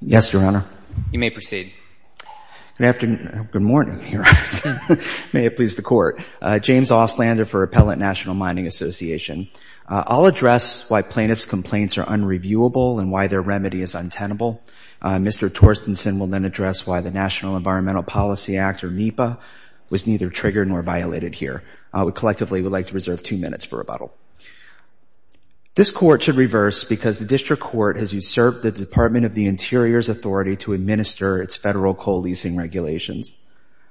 Yes, Your Honor. You may proceed. Good afternoon. Good morning, Your Honors. May it please the Court. James Ostlander for Appellant National Mining Association. I'll address why plaintiff's complaints are unreviewable and why their remedy is untenable. Mr. Torstensen will then address why the National Environmental Policy Act, or NEPA, was neither triggered nor violated here. We collectively would like to reserve two minutes for rebuttal. This Court should reverse because the District Court has usurped the Department of the Interior's authority to administer its federal co-leasing regulations.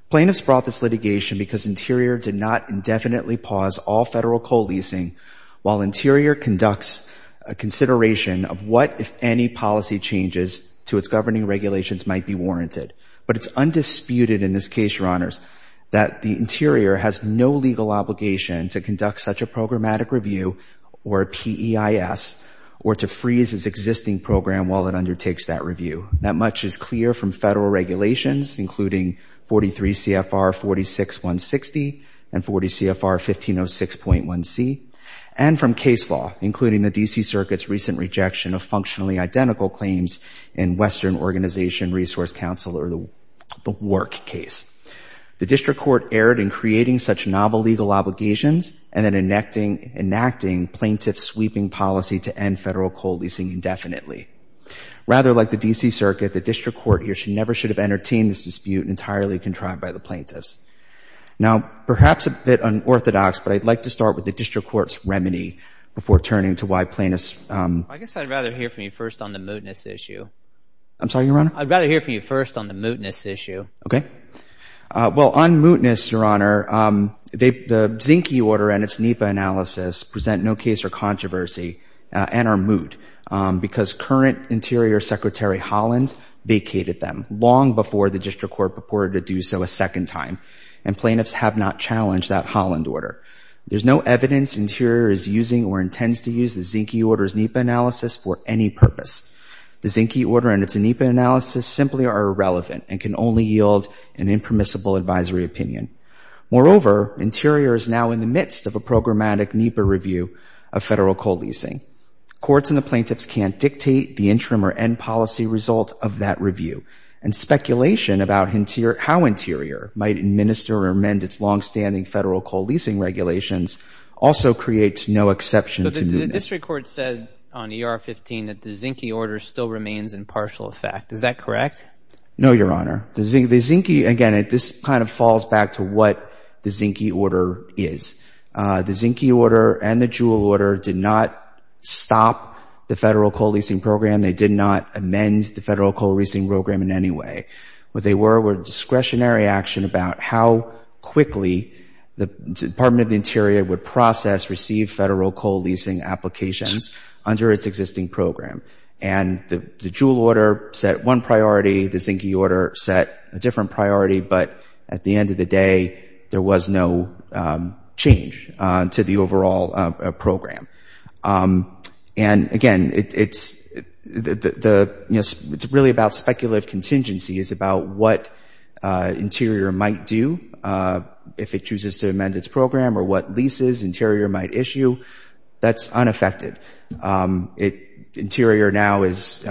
Plaintiffs brought this litigation because Interior did not indefinitely pause all federal co-leasing while Interior conducts a consideration of what, if any, policy changes to its governing regulations might be warranted. But it's undisputed in this case, Your Honors, that the Interior has no legal obligation to conduct such a programmatic review or PEIS or to freeze its existing program while it undertakes that review. That much is clear from federal regulations, including 43 CFR 46160 and 40 CFR 1506.1c, and from case law, including the D.C. Circuit's recent rejection of functionally identical claims in Western Organization Resource Council, or the WORC case. The District Court erred in creating such novel obligations and then enacting plaintiff-sweeping policy to end federal co-leasing indefinitely. Rather, like the D.C. Circuit, the District Court here should never should have entertained this dispute entirely contrived by the plaintiffs. Now, perhaps a bit unorthodox, but I'd like to start with the District Court's remedy before turning to why plaintiffs... I guess I'd rather hear from you first on the mootness issue. I'm sorry, Your Honor? I'd rather hear from you first on the mootness, Your Honor. The Zinke order and its NEPA analysis present no case for controversy and are moot because current Interior Secretary Holland vacated them long before the District Court purported to do so a second time, and plaintiffs have not challenged that Holland order. There's no evidence Interior is using or intends to use the Zinke order's NEPA analysis for any purpose. The Zinke order and its NEPA analysis simply are irrelevant and can only yield an impermissible advisory opinion. Moreover, Interior is now in the midst of a programmatic NEPA review of federal co-leasing. Courts and the plaintiffs can't dictate the interim or end policy result of that review, and speculation about how Interior might administer or amend its longstanding federal co-leasing regulations also creates no exception to mootness. The District Court said on ER-15 that the Zinke order still remains in partial effect. Is that Again, this kind of falls back to what the Zinke order is. The Zinke order and the Jewel order did not stop the federal co-leasing program. They did not amend the federal co-leasing program in any way. What they were were discretionary action about how quickly the Department of the Interior would process, receive federal co-leasing applications under its existing program. And the Jewel order set one priority. The Zinke order set a different priority. But at the end of the day, there was no change to the overall program. And again, it's really about speculative contingency. It's about what Interior might do if it chooses to amend its program or what leases Interior might issue. That's unaffected. Interior now is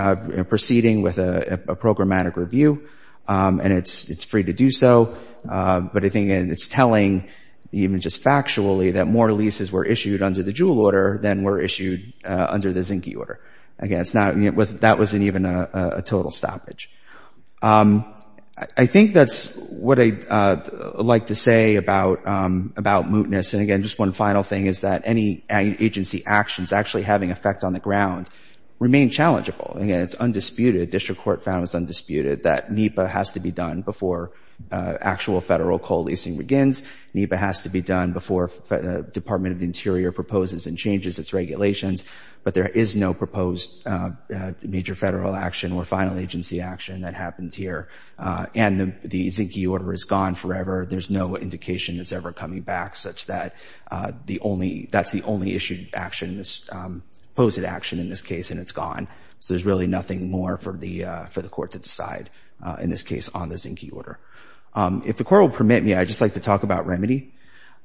proceeding with a programmatic review, and it's free to do so. But I think it's telling, even just factually, that more leases were issued under the Jewel order than were issued under the Zinke order. Again, that wasn't even a total stoppage. I think that's what I'd like to say about mootness. And again, just one final thing is that any agency actions actually having effect on the ground remain challengeable. Again, it's undisputed. District Court found it's undisputed that NEPA has to be done before actual federal co-leasing begins. NEPA has to be done before the Department of the Interior proposes and changes its regulations. But there is no proposed major federal action or final agency action that happens here. And the Zinke order is gone forever. There's no indication it's ever coming back, such that that's the only issued action, this posted action in this case, and it's gone. So there's really nothing more for the court to decide in this case on the Zinke order. If the Court will permit me, I'd just like to talk about remedy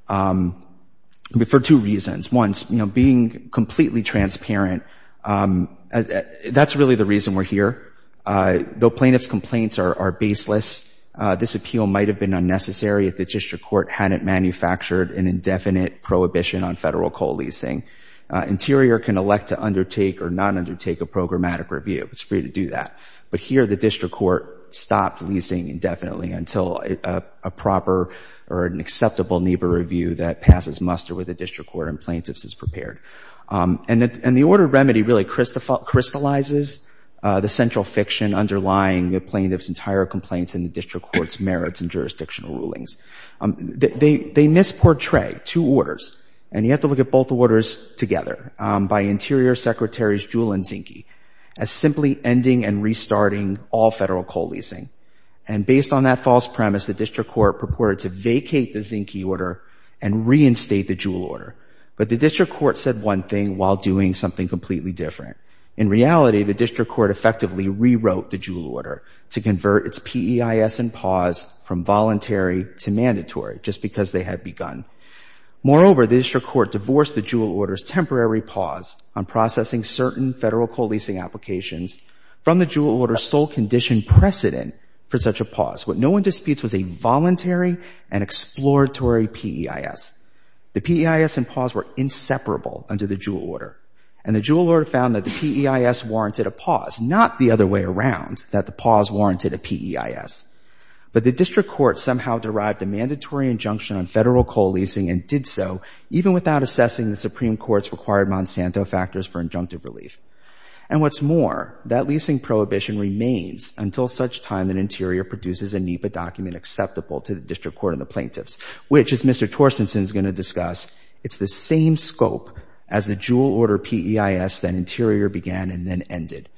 for two reasons. One's being completely transparent. That's really the reason we're here. Though plaintiff's complaints are baseless, this appeal might have been unnecessary if the District Court hadn't manufactured an indefinite prohibition on federal co-leasing. Interior can elect to undertake or not undertake a programmatic review. It's free to do that. But here the District Court stopped leasing indefinitely until a proper or an acceptable NEPA review that passes muster with the District Court and plaintiffs is prepared. And the order remedy really crystallizes the central fiction underlying the plaintiff's entire complaints in the District Court's merits and jurisdictional rulings. They misportray two orders, and you have to look at both orders together, by Interior Secretaries Jewell and Zinke, as simply ending and restarting all federal co-leasing. And based on that false premise, the District Court purported to vacate the Zinke order and reinstate the Jewell order. But the District Court said one thing while doing something completely different. In reality, the District Court effectively rewrote the Jewell order to convert its PEIS and pause from voluntary to mandatory just because they had begun. Moreover, the District Court divorced the Jewell order's temporary pause on processing certain federal co-leasing applications from the Jewell order's sole condition precedent for such a pause. What no one disputes was a voluntary and exploratory PEIS. The PEIS and pause were inseparable under the Jewell order. And the Jewell order found that the PEIS warranted a pause, not the other way around, that the pause warranted a PEIS. But the District Court somehow derived a mandatory injunction on federal co-leasing and did so even without assessing the Supreme Court's required Monsanto factors for injunctive relief. And what's more, that leasing prohibition remains until such time that Interior produces a NEPA document acceptable to the District Court and the plaintiffs, which, as Mr. Torstensen is going to discuss, it's the same scope as the Jewell order PEIS that Interior began and then ended.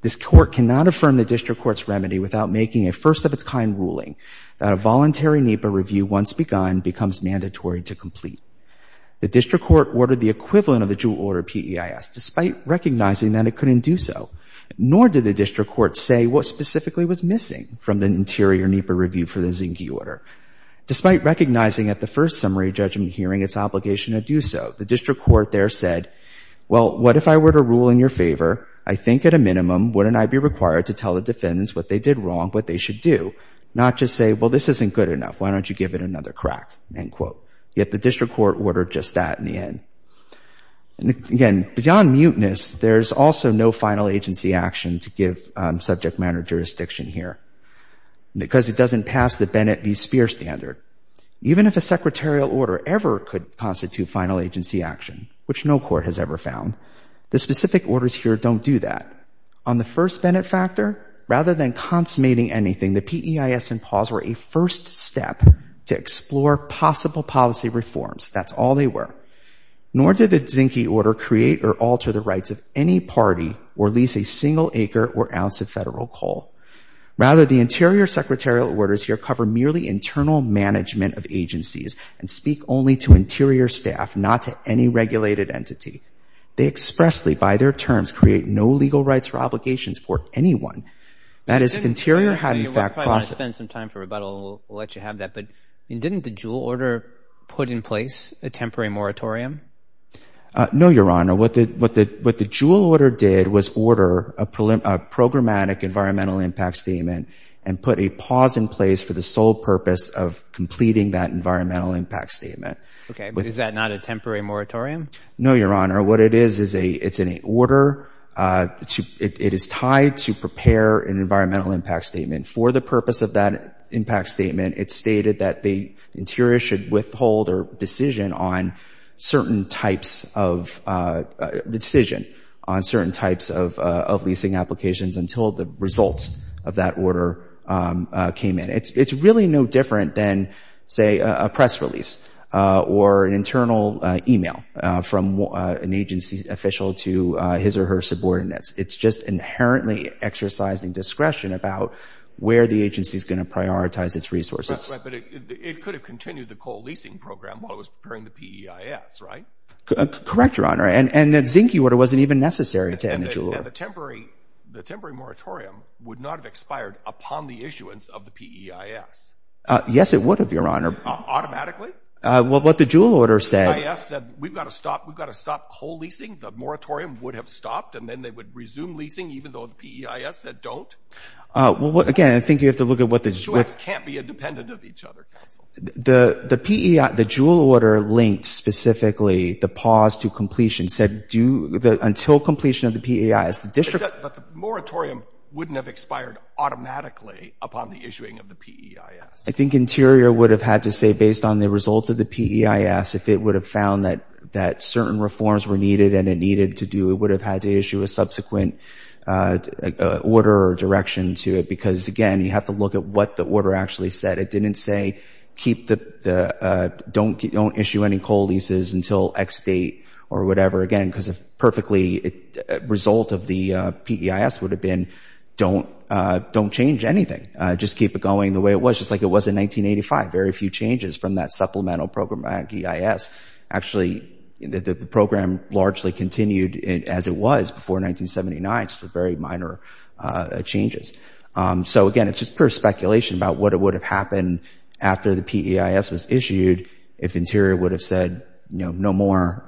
This Court cannot affirm the District Court's remedy without making a first-of-its-kind ruling that a voluntary NEPA review, once begun, becomes mandatory to complete. The District Court ordered the equivalent of the Jewell order PEIS, despite recognizing that it couldn't do so. Nor did the District Court say what specifically was missing from the Interior NEPA review for the Zinke order. Despite recognizing at the first summary judgment hearing its obligation to do so, the District Court there said, well, what if I were to rule in your favor? I think at a not just say, well, this isn't good enough. Why don't you give it another crack, end quote. Yet, the District Court ordered just that in the end. And again, beyond muteness, there's also no final agency action to give subject matter jurisdiction here because it doesn't pass the Bennett v. Speer standard. Even if a secretarial order ever could constitute final agency action, which no Court has ever found, the specific orders here don't do that. On the first Bennett factor, rather than consummating anything, the PEIS and PAWS were a first step to explore possible policy reforms. That's all they were. Nor did the Zinke order create or alter the rights of any party or lease a single acre or ounce of federal coal. Rather, the Interior secretarial orders here cover merely internal management of agencies and speak only to Interior staff, not to any regulated entity. They expressly, by their terms, create no legal rights or obligations for anyone. That is, if Interior had in fact... You might want to spend some time for rebuttal, and we'll let you have that. But didn't the Jewell order put in place a temporary moratorium? No, Your Honor. What the Jewell order did was order a programmatic environmental impact statement and put a PAWS in place for the sole purpose of completing that environmental impact statement. Okay. But is that not a temporary moratorium? No, Your Honor. What it is, it's an order. It is tied to prepare an environmental impact statement. For the purpose of that impact statement, it's stated that the Interior should withhold a decision on certain types of leasing applications until the results of that order came in. It's really no different than, say, a press release or an internal email from an agency official to his or her subordinates. It's just inherently exercising discretion about where the agency is going to prioritize its resources. But it could have continued the coal leasing program while it was preparing the PEIS, right? Correct, Your Honor. And the Zinke order wasn't even necessary to end the Jewell order. And the temporary moratorium would not have Yes, it would have, Your Honor. Automatically? Well, what the Jewell order said... The PEIS said, we've got to stop. We've got to stop coal leasing. The moratorium would have stopped, and then they would resume leasing, even though the PEIS said don't? Well, again, I think you have to look at what the... The two acts can't be independent of each other, counsel. The PEIS, the Jewell order linked specifically the PAWS to completion said, until completion of the PEIS, the district... But the moratorium wouldn't have expired automatically upon the issuing of the PEIS. I think Interior would have had to say, based on the results of the PEIS, if it would have found that certain reforms were needed and it needed to do, it would have had to issue a subsequent order or direction to it. Because again, you have to look at what the order actually said. It didn't say, don't issue any coal leases until X date or whatever. Again, because if perfectly result of the PEIS would have been, don't change anything. Just keep it going the way it was, like it was in 1985, very few changes from that supplemental program at PEIS. Actually, the program largely continued as it was before 1979, just with very minor changes. So again, it's just pure speculation about what would have happened after the PEIS was issued, if Interior would have said, no more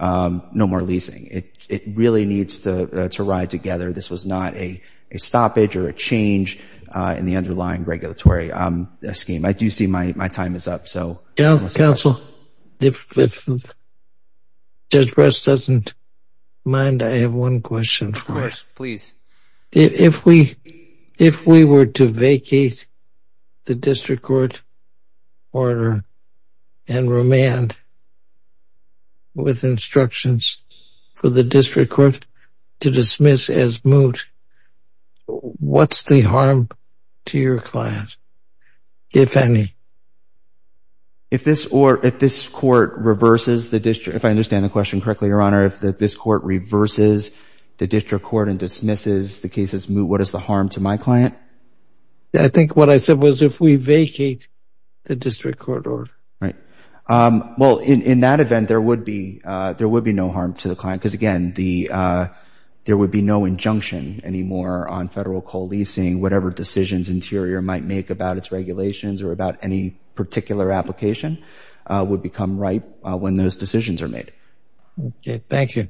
leasing. It really needs to ride together. This was not a stoppage or a change in the underlying regulatory scheme. I do see my time is up. Counsel, if Judge Bress doesn't mind, I have one question for you. Please. If we were to vacate the district court order and remand with instructions for the district court to dismiss as moot, what's the harm to your client, if any? If this court reverses the district, if I understand the question correctly, Your Honor, if this court reverses the district court and dismisses the case as moot, what is the harm to my client? I think what I said was if we vacate the district court order. Right. Well, in that event, there would be no harm to the client because, again, there would be no injunction anymore on federal co-leasing. Whatever decisions Interior might make about its regulations or about any particular application would become ripe when those decisions are made. Okay. Thank you.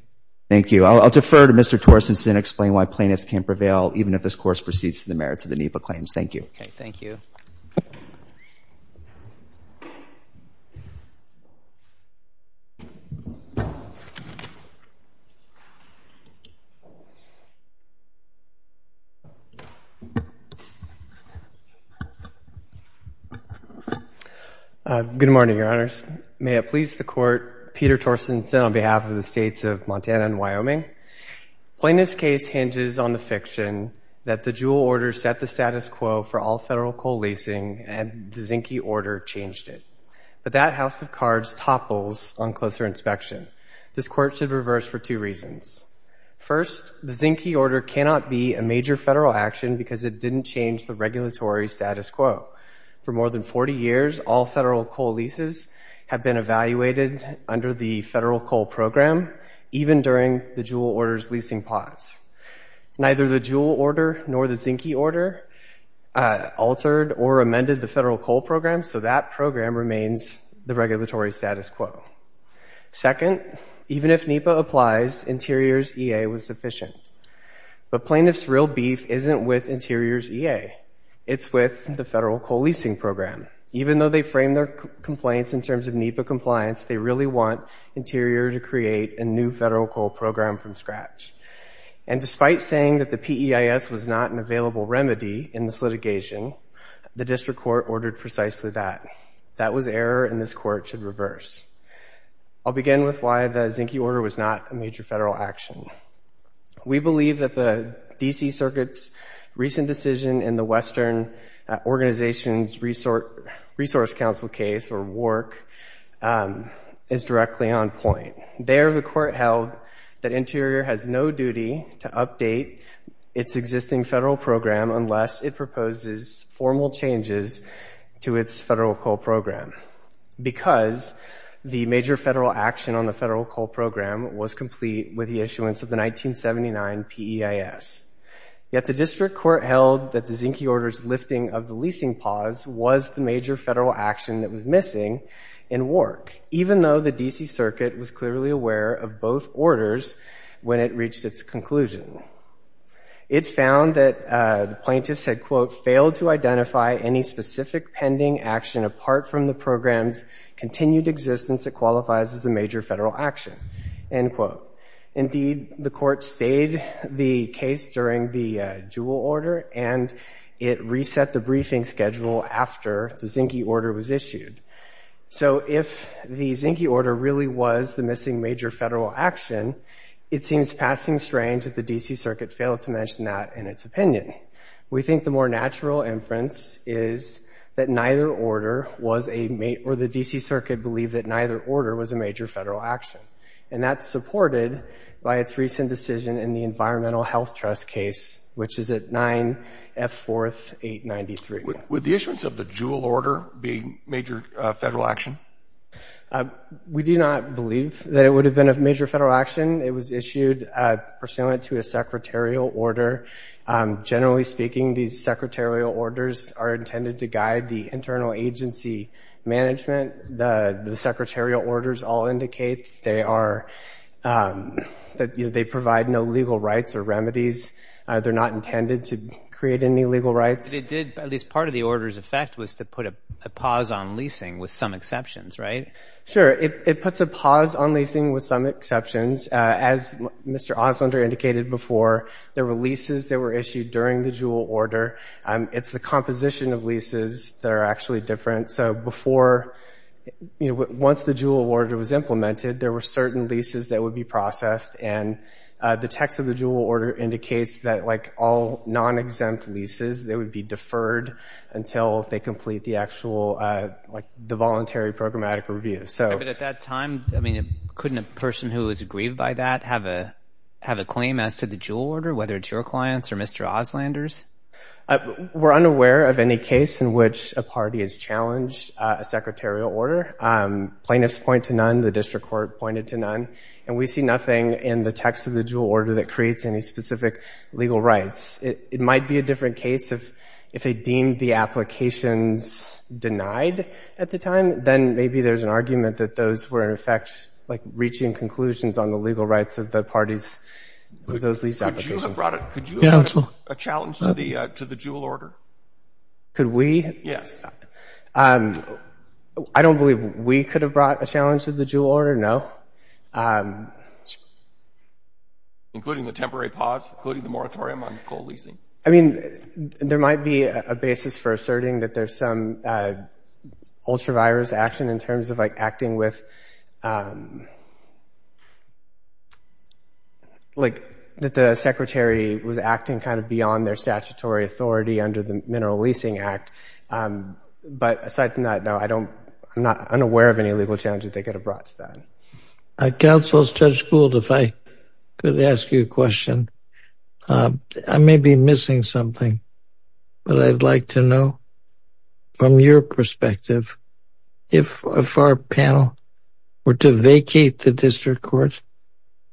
Thank you. I'll defer to Mr. Torstenson to explain why plaintiffs can't prevail, even if this course proceeds to the merits of the NEPA claims. Thank you. Thank you. Good morning, Your Honors. May it please the Court, Peter Torstenson on behalf of the states of Montana and Wyoming. Plaintiff's case hinges on the fiction that the Juul order set the status quo for all federal co-leasing and the Zinke order changed it. But that house of cards topples on closer inspection. This court should reverse for two reasons. First, the Zinke order cannot be a major federal action because it didn't change the regulatory status quo. For more than 40 years, all federal co-leases have been evaluated under the federal co-program, even during the Juul order, nor the Zinke order altered or amended the federal co-program, so that program remains the regulatory status quo. Second, even if NEPA applies, Interior's EA was sufficient. But plaintiff's real beef isn't with Interior's EA. It's with the federal co-leasing program. Even though they frame their complaints in terms of NEPA compliance, they really want Interior to create a new federal co-program from scratch. And despite saying that the EIS was not an available remedy in this litigation, the district court ordered precisely that. That was error and this court should reverse. I'll begin with why the Zinke order was not a major federal action. We believe that the D.C. Circuit's recent decision in the Western Organization's Resource Council case, or WARC, is directly on point. There, the court held that Interior has no duty to update its existing federal program unless it proposes formal changes to its federal co-program, because the major federal action on the federal co-program was complete with the issuance of the 1979 PEIS. Yet the district court held that the Zinke order's lifting of the leasing pause was the major federal action that was missing in WARC, even though the when it reached its conclusion. It found that the plaintiffs had, quote, failed to identify any specific pending action apart from the program's continued existence that qualifies as a major federal action, end quote. Indeed, the court stayed the case during the dual order and it reset the briefing schedule after the Zinke order was issued. So if the Zinke order really was the missing major federal action, it seems passing strange that the D.C. Circuit failed to mention that in its opinion. We think the more natural inference is that neither order was a, or the D.C. Circuit believed that neither order was a major federal action. And that's supported by its recent decision in the Environmental Health Trust case, which is at 9F4893. With the issuance of the dual order being major federal action? We do not believe that it would have been a major federal action. It was issued pursuant to a secretarial order. Generally speaking, these secretarial orders are intended to guide the internal agency management. The secretarial orders all indicate they are, that they provide no legal rights or remedies. They're not intended to create any legal rights. But it did, at least part of the order's effect was to put a pause on leasing with some exceptions, right? Sure. It puts a pause on leasing with some exceptions. As Mr. Oslender indicated before, there were leases that were issued during the dual order. It's the composition of leases that are actually different. So before, you know, once the dual order was implemented, there were certain leases that would be processed. And the text of the dual order indicates that, like all non-exempt leases, they would be deferred until they complete the actual, like, the voluntary programmatic review. But at that time, I mean, couldn't a person who is aggrieved by that have a claim as to the dual order, whether it's your clients or Mr. Oslender's? We're unaware of any case in which a party has challenged a secretarial order. Plaintiffs point to none. The district court pointed to none. And we see nothing in the text of the dual order that creates any specific legal rights. It might be a different case if they deemed the applications denied at the time. Then maybe there's an argument that those were, in effect, like, reaching conclusions on the legal rights of the parties with those lease applications. Could you have brought a challenge to the dual order? Could we? Yes. I don't believe we could have brought a challenge to the dual order. No. Including the temporary pause? Including the moratorium on co-leasing? I mean, there might be a basis for asserting that there's some ultra-virus action in terms of, like, acting with, like, that the secretary was acting kind of beyond their statutory authority under the Mineral Leasing Act. But aside from that, no, I don't, I'm not unaware of any legal challenge that they could have brought to that. Counsel Judge Gould, if I could ask you a question. I may be missing something, but I'd like to know, from your perspective, if our panel were to vacate the district court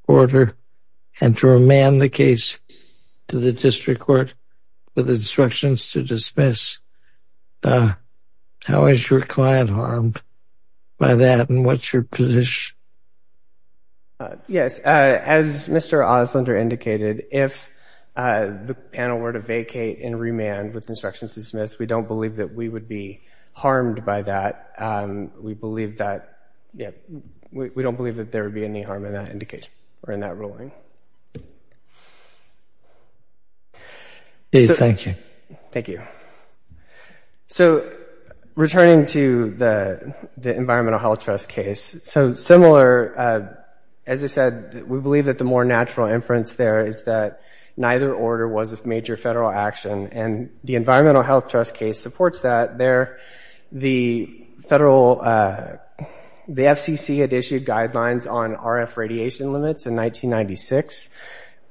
order and to remand the case to the district court with instructions to dismiss, what's your position? Yes. As Mr. Oslinder indicated, if the panel were to vacate and remand with instructions to dismiss, we don't believe that we would be harmed by that. We believe that, yeah, we don't believe that there would be any harm in that indication or in that ruling. Thank you. Thank you. So, returning to the Environmental Health Trust case, so similar, as I said, we believe that the more natural inference there is that neither order was of major federal action, and the Environmental Health Trust case supports that. The federal, the FCC had issued guidelines on RF radiation limits in 1996.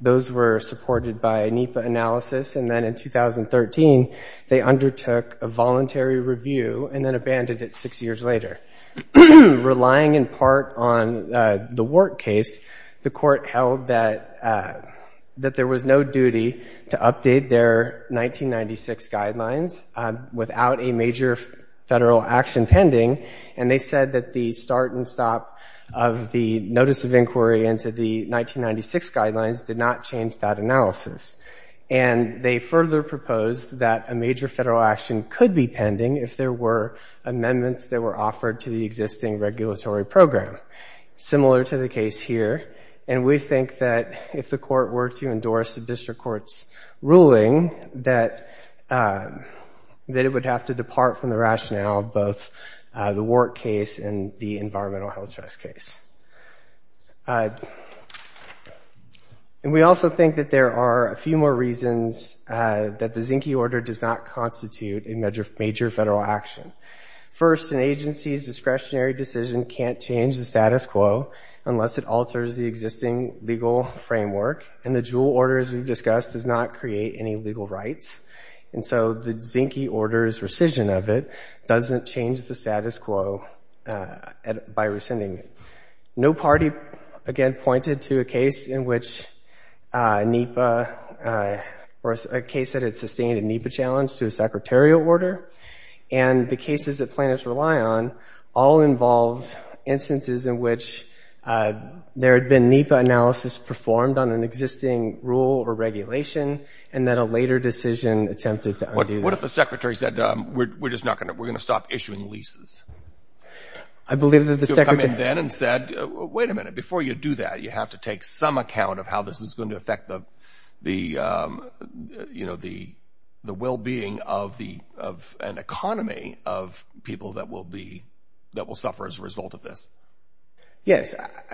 Those were supported by NEPA analysis, and then in 2013, they undertook a voluntary review and then abandoned it six years later. Relying in part on the WART case, the court held that there was no duty to update their 1996 guidelines without a major federal action pending, and they said that the start and stop of the notice of inquiry into the 1996 guidelines did not change that analysis. And they further proposed that a major federal action could be pending if there were amendments that were offered to the existing regulatory program, similar to the case here. And we think that if the court were to endorse the district court's ruling, that it would have to depart from the rationale of both the WART case and the Environmental Health Trust case. And we also think that there are a few more reasons that the Zinke order does not constitute a major federal action. First, an agency's discretionary decision can't change the status quo unless it alters the existing legal framework, and the Juul order, as we've discussed, does not create any legal rights. And so the Zinke order's rescission of it doesn't change the status quo by rescinding it. No party, again, pointed to a case in which NEPA, or a case that had sustained a NEPA challenge to a secretarial order, and the cases that instances in which there had been NEPA analysis performed on an existing rule or regulation, and then a later decision attempted to undo that. What if the secretary said, we're just not going to, we're going to stop issuing leases? I believe that the secretary would have come in then and said, wait a minute, before you do that, you have to take some account of how this is going to affect the, you know, the well-being of an economy of people that will be, that will suffer as a result of this. Yes.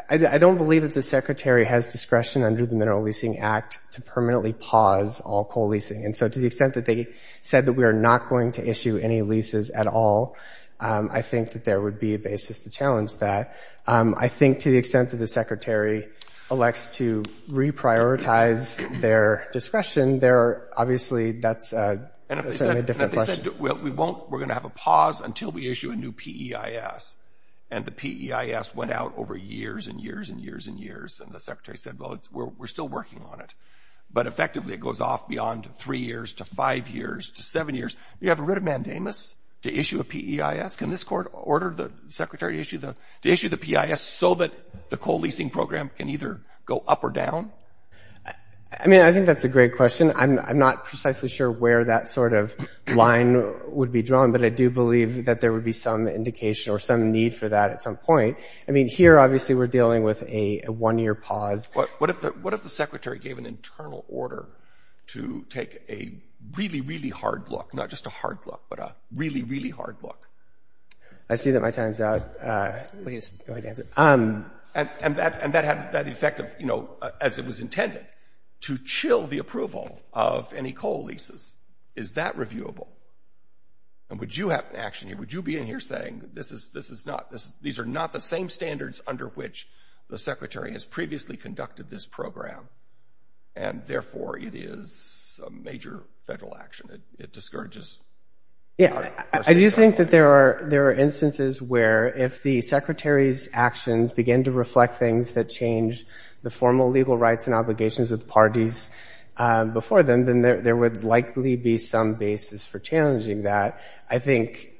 I don't believe that the secretary has discretion under the Mineral Leasing Act to permanently pause all coal leasing. And so to the extent that they said that we are not going to issue any leases at all, I think that there would be a basis to challenge that. I think to the extent that the secretary elects to reprioritize their discretion, there are obviously, that's a different question. We won't, we're going to have a pause until we issue a PEIS. And the PEIS went out over years and years and years and years. And the secretary said, well, we're still working on it, but effectively it goes off beyond three years to five years to seven years. You have a writ of mandamus to issue a PEIS? Can this court order the secretary to issue the, to issue the PEIS so that the coal leasing program can either go up or down? I mean, I think that's a great question. I'm not precisely sure where that sort of line would be drawn, but I do believe that there would be some indication or some need for that at some point. I mean, here, obviously, we're dealing with a one-year pause. What if the secretary gave an internal order to take a really, really hard look, not just a hard look, but a really, really hard look? I see that my time's out. Please go ahead and answer. And that had the effect of, you know, as it was intended, to chill the approval of any coal leases. Is that reviewable? And would you have an action here? Would you be in here saying, this is, this is not, these are not the same standards under which the secretary has previously conducted this program, and therefore it is a major federal action? It discourages? Yeah, I do think that there are, there are instances where if the secretary's actions begin to reflect things that change the formal legal rights and obligations of the parties before them, then there would likely be some basis for challenging that. I think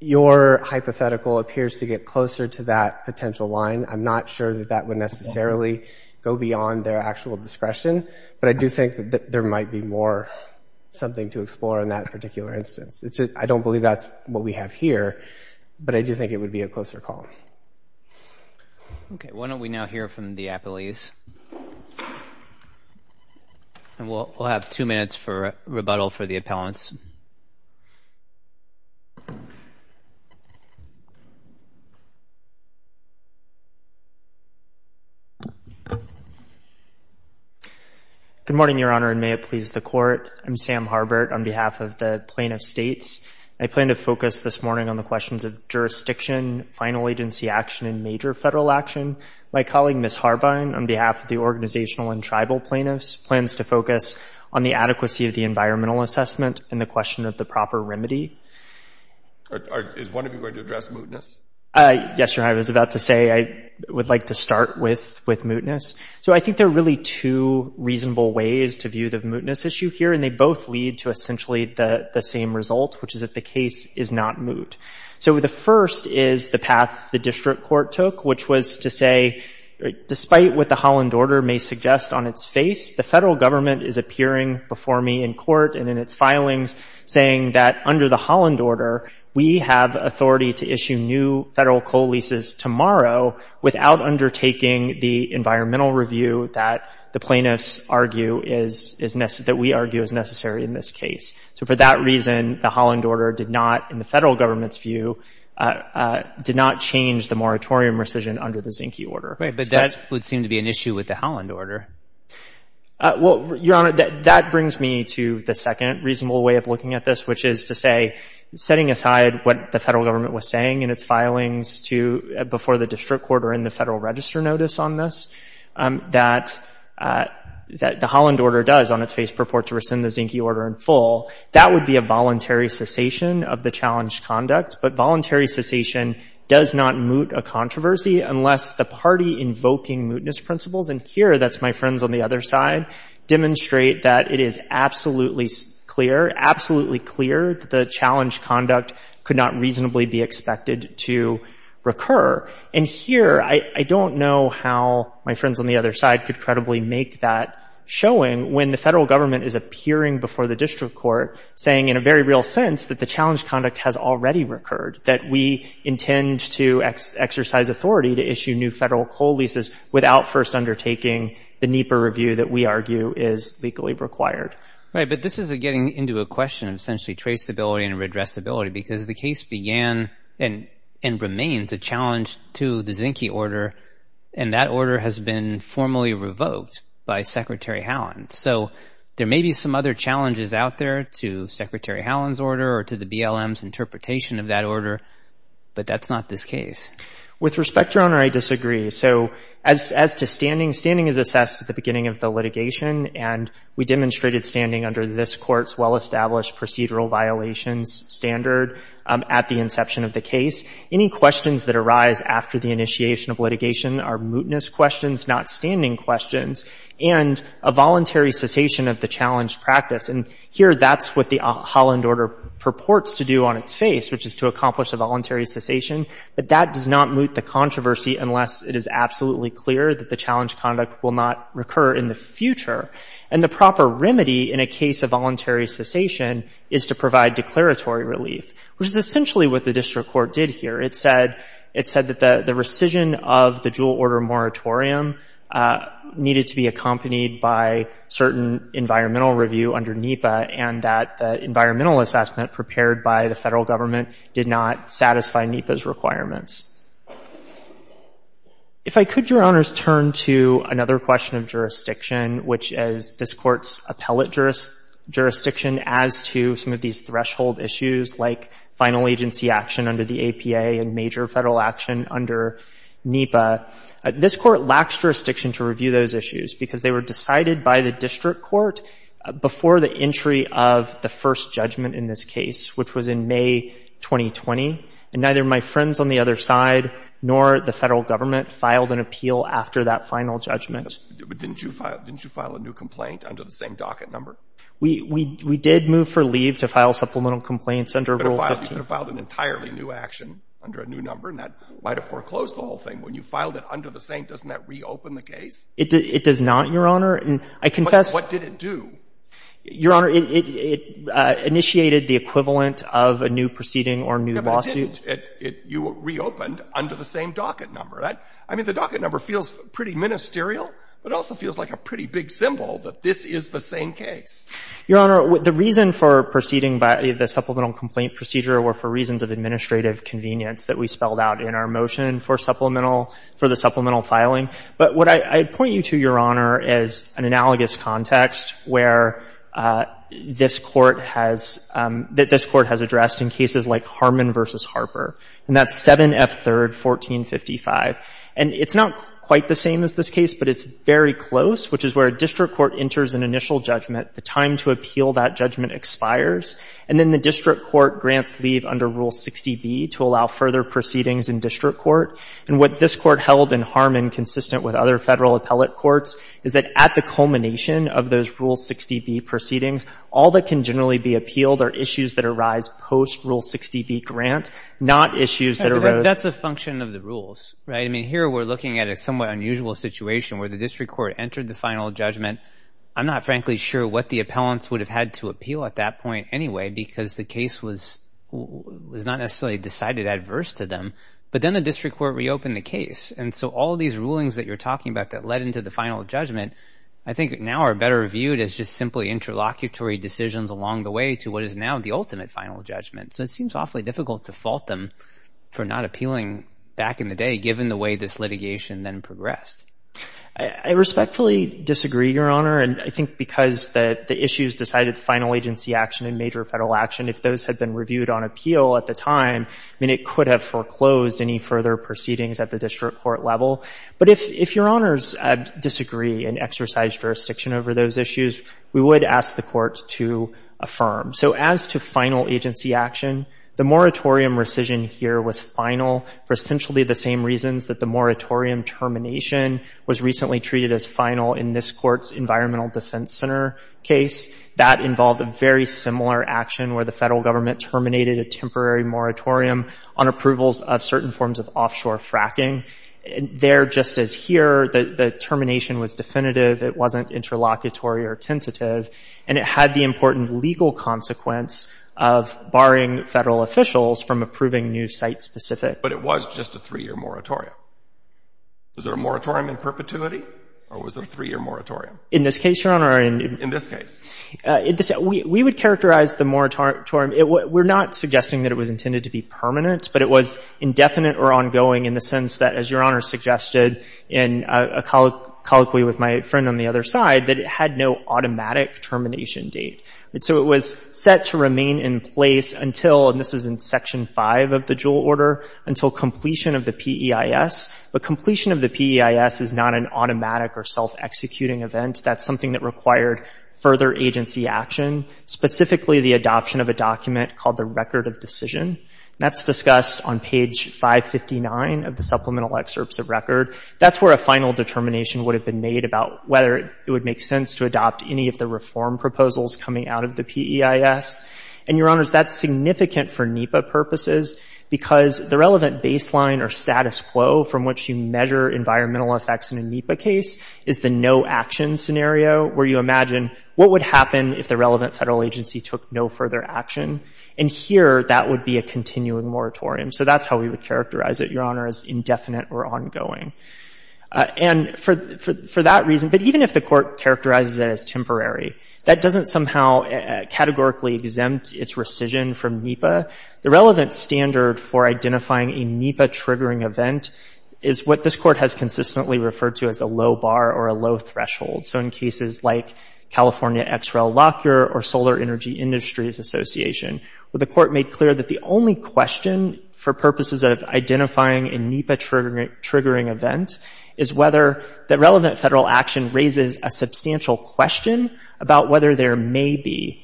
your hypothetical appears to get closer to that potential line. I'm not sure that that would necessarily go beyond their actual discretion, but I do think that there might be more something to explore in that particular instance. It's, I don't believe that's what we have here, but I do think it would be a closer call. Okay. Why don't we now hear from the appellees? And we'll, we'll have two minutes for rebuttal for the appellants. Good morning, Your Honor, and may it please the court. I'm Sam Harbert on behalf of the Plain of States. I plan to focus this morning on the questions of jurisdiction. Final agency action and major federal action. My colleague, Ms. Harbin, on behalf of the organizational and tribal plaintiffs, plans to focus on the adequacy of the environmental assessment and the question of the proper remedy. Is one of you going to address mootness? Yes, Your Honor, I was about to say I would like to start with, with mootness. So I think there are really two reasonable ways to view the mootness issue here, and they both lead to the path the district court took, which was to say, despite what the Holland order may suggest on its face, the federal government is appearing before me in court and in its filings saying that under the Holland order, we have authority to issue new federal coal leases tomorrow without undertaking the environmental review that the plaintiffs argue is, is necessary, that we argue is necessary in this case. So for that reason, the Holland order did not, in the federal government's view, did not change the moratorium rescission under the Zinke order. Right, but that would seem to be an issue with the Holland order. Well, Your Honor, that brings me to the second reasonable way of looking at this, which is to say, setting aside what the federal government was saying in its filings to, before the district court or in the federal register notice on this, that, that the Holland order does on its face purport to rescind the Zinke order in full, that would be a voluntary cessation of the challenged conduct. But voluntary cessation does not moot a controversy unless the party invoking mootness principles, and here, that's my friends on the other side, demonstrate that it is absolutely clear, absolutely clear that the challenged conduct could not reasonably be expected to recur. And here, I, I don't know how my friends on the other side could credibly make that showing when the federal government is appearing before the district court saying in a very real that the challenged conduct has already recurred, that we intend to exercise authority to issue new federal coal leases without first undertaking the Nieper review that we argue is legally required. Right, but this is a getting into a question of essentially traceability and redressability because the case began and remains a challenge to the Zinke order, and that order has been formally revoked by Secretary Holland. So there may be some other challenges out there to Secretary Holland's order or to the BLM's interpretation of that order, but that's not this case. With respect, Your Honor, I disagree. So as, as to standing, standing is assessed at the beginning of the litigation, and we demonstrated standing under this court's well-established procedural violations standard at the inception of the case. Any questions that arise after the initiation of litigation are mootness questions, not standing questions, and a voluntary cessation of the Holland order purports to do on its face, which is to accomplish a voluntary cessation, but that does not moot the controversy unless it is absolutely clear that the challenge conduct will not recur in the future. And the proper remedy in a case of voluntary cessation is to provide declaratory relief, which is essentially what the district court did here. It said, it said that the, the rescission of the dual order moratorium needed to be accompanied by certain environmental review under NEPA, and that the environmental assessment prepared by the federal government did not satisfy NEPA's requirements. If I could, Your Honors, turn to another question of jurisdiction, which is this court's appellate jurisdiction as to some of these threshold issues like final agency action under the APA and major federal action under NEPA. This court lacks jurisdiction to review those before the entry of the first judgment in this case, which was in May 2020, and neither my friends on the other side nor the federal government filed an appeal after that final judgment. But didn't you file, didn't you file a new complaint under the same docket number? We, we, we did move for leave to file supplemental complaints under Rule 15. You could have filed an entirely new action under a new number, and that might have foreclosed the whole thing. When you filed it under the same, doesn't that reopen the case? It does not, Your Honor, and I confess. What did it do? Your Honor, it, it, it initiated the equivalent of a new proceeding or new lawsuit. No, but it didn't. It, it, you reopened under the same docket number. That, I mean, the docket number feels pretty ministerial, but it also feels like a pretty big symbol that this is the same case. Your Honor, the reason for proceeding by the supplemental complaint procedure were for reasons of administrative convenience that we spelled out in our motion for supplemental, for the supplemental filing. But what I, I point you to, Your Honor, is an analogous context where this Court has, that this Court has addressed in cases like Harmon v. Harper, and that's 7F3rd 1455. And it's not quite the same as this case, but it's very close, which is where a district court enters an initial judgment. The time to appeal that judgment expires, and then the district court grants leave under Rule 60B to allow further proceedings in district court. And what this Court held in Harmon, consistent with other federal appellate courts, is that at the culmination of those Rule 60B proceedings, all that can generally be appealed are issues that arise post-Rule 60B grant, not issues that arose... That's a function of the rules, right? I mean, here we're looking at a somewhat unusual situation where the district court entered the final judgment. I'm not frankly sure what the appellants would have had to appeal at that point anyway, because the case was, was not necessarily decided adverse to them. But then the district court reopened the case. And so all of these rulings that you're talking about that led into the final judgment, I think now are better reviewed as just simply interlocutory decisions along the way to what is now the ultimate final judgment. So it seems awfully difficult to fault them for not appealing back in the day, given the way this litigation then progressed. I respectfully disagree, Your Honor. And I think because the, the issues decided final agency action and major federal action, if those had been reviewed on appeal at the time, I mean, it could have foreclosed any further proceedings at the district court level. But if, if Your Honors disagree and exercise jurisdiction over those issues, we would ask the Court to affirm. So as to final agency action, the moratorium termination was recently treated as final in this Court's Environmental Defense Center case. That involved a very similar action where the federal government terminated a temporary moratorium on approvals of certain forms of offshore fracking. There, just as here, the, the termination was definitive. It wasn't interlocutory or tentative. And it had the important legal consequence of barring federal officials from approving new site-specific... But it was just a three-year moratorium. Was there a moratorium in perpetuity, or was there a three-year moratorium? In this case, Your Honor, or in... In this case. We, we would characterize the moratorium, it, we're not suggesting that it was intended to be permanent, but it was indefinite or ongoing in the sense that, as Your Honor suggested in a colloquy with my friend on the other side, that it had no automatic termination date. So it was set to remain in place until, and this is in Section 5 of the Juul Order, until completion of the PEIS. But completion of the PEIS is not an automatic or self-executing event. That's something that required further agency action, specifically the adoption of a document called the Record of Decision. That's discussed on page 559 of the Supplemental Excerpts of Record. That's where a final determination would have been made about whether it would make sense to adopt any of the reform proposals coming out of the PEIS. And Your Honor, that's significant for NEPA purposes, because the relevant baseline or status quo from which you measure environmental effects in a NEPA case is the no-action scenario, where you imagine what would happen if the relevant federal agency took no further action. And here, that would be a continuing moratorium. So that's how we would characterize it, Your Honor, as indefinite or as temporary. That doesn't somehow categorically exempt its rescission from NEPA. The relevant standard for identifying a NEPA-triggering event is what this Court has consistently referred to as a low bar or a low threshold. So in cases like California XREL Lockyer or Solar Energy Industries Association, where the Court made clear that the only question for purposes of identifying a NEPA-triggering event is whether the relevant federal action raises a substantial question about whether there may be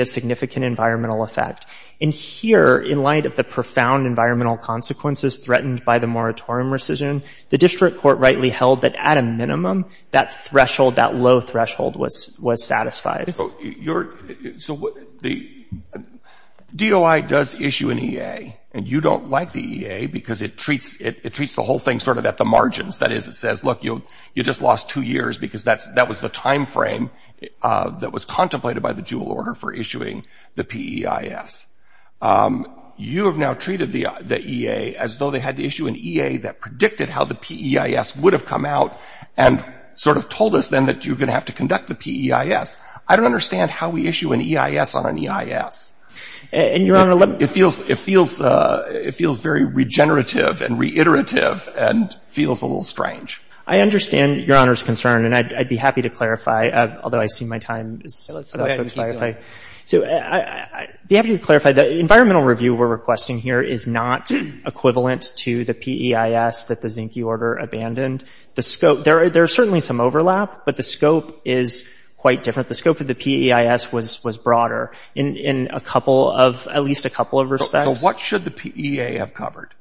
a significant environmental effect. And here, in light of the profound environmental consequences threatened by the moratorium rescission, the District Court rightly held that at a minimum, that threshold, that low threshold was satisfied. So the DOI does issue an EA, and you don't like the EA because it treats the whole thing sort of at the margins. That is, it says, look, you just lost two years because that was the time frame that was contemplated by the Juul order for issuing the PEIS. You have now treated the EA as though they had to issue an EA that predicted how the PEIS would have come out and sort of told us, then, that you're going to have to conduct the PEIS. I don't understand how we issue an EIS on an EIS. And, Your Honor, let me... It feels, it feels, it feels very regenerative and reiterative and feels a little strange. I understand Your Honor's concern, and I'd be happy to clarify, although I see my time is... Go ahead, keep going. So I'd be happy to clarify that the environmental review we're requesting here is not equivalent to the PEIS that the Zinke order abandoned. The scope, there's certainly some overlap, but the scope is quite different. The scope of the PEIS was broader in a couple of, at least a couple of respects. So what should the PEA have covered?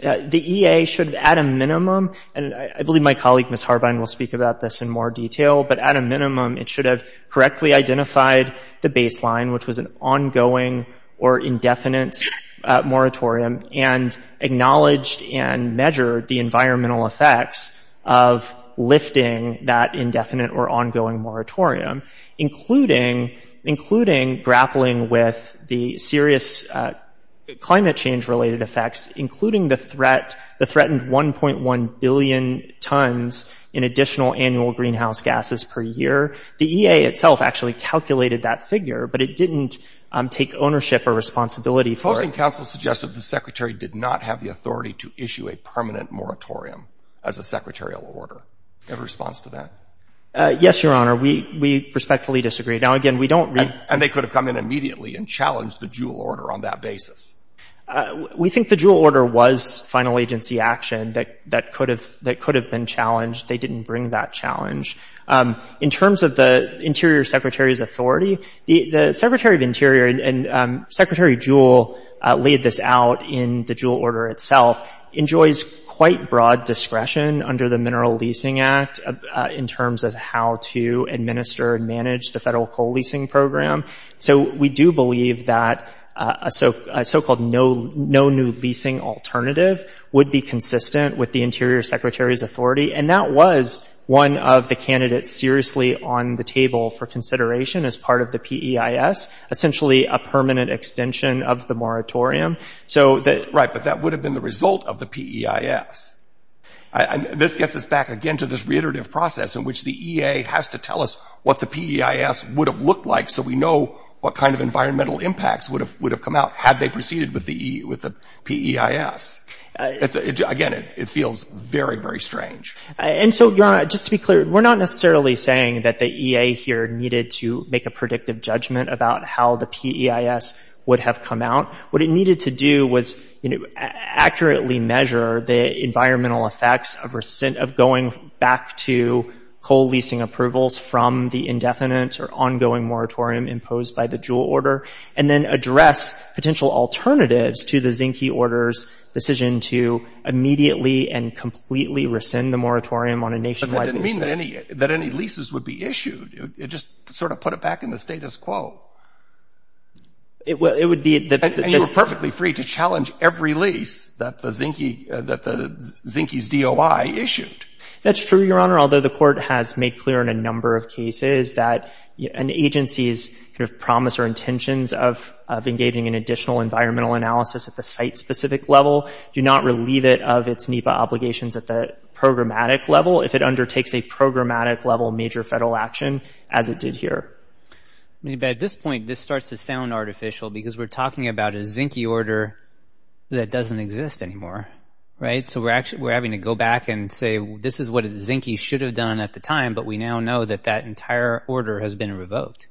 The EA should, at a minimum, and I believe my colleague, Ms. Harbine, will speak about this in more detail, but at a minimum, it should have correctly identified the baseline, which was an acknowledged and measured the environmental effects of lifting that indefinite or ongoing moratorium, including, including grappling with the serious climate change related effects, including the threat, the threatened 1.1 billion tons in additional annual greenhouse gases per year. The EA itself actually calculated that figure, but it didn't take ownership or responsibility for it. Counsel suggested the secretary did not have the authority to issue a permanent moratorium as a secretarial order. Do you have a response to that? Yes, Your Honor. We, we respectfully disagree. Now, again, we don't read... And they could have come in immediately and challenged the Juul order on that basis. We think the Juul order was final agency action that, that could have, that could have been challenged. They didn't bring that challenge. In terms of the interior secretary's authority, the secretary of interior, and Secretary Juul laid this out in the Juul order itself, enjoys quite broad discretion under the Mineral Leasing Act in terms of how to administer and manage the federal coal leasing program. So we do believe that a so-called no, no new leasing alternative would be consistent with the interior secretary's authority. And that was one of the candidates seriously on the table for consideration as part of the PEIS, essentially a permanent extension of the moratorium. So that... Right. But that would have been the result of the PEIS. This gets us back again to this reiterative process in which the EA has to tell us what the PEIS would have looked like. So we know what kind of environmental impacts would have, would have come out had they proceeded with the, with the PEIS. Again, it feels very, very strange. And so, Your Honor, just to be clear, we're not necessarily saying that the EA here needed to make a predictive judgment about how the PEIS would have come out. What it needed to do was, you know, accurately measure the environmental effects of recent, of going back to coal leasing approvals from the indefinite or ongoing moratorium imposed by the Juul order, and then address potential alternatives to the Zinke order's decision to immediately and on a nationwide basis... But that didn't mean that any, that any leases would be issued. It just sort of put it back in the status quo. It would, it would be that... And you were perfectly free to challenge every lease that the Zinke, that the Zinke's DOI issued. That's true, Your Honor. Although the court has made clear in a number of cases that an agency's kind of promise or intentions of, of engaging in additional environmental analysis at a site-specific level do not relieve it of its NEPA obligations at the programmatic level, if it undertakes a programmatic level major federal action as it did here. But at this point, this starts to sound artificial because we're talking about a Zinke order that doesn't exist anymore, right? So we're actually, we're having to go back and say, this is what Zinke should have done at the time, but we now know that that entire order has been revoked.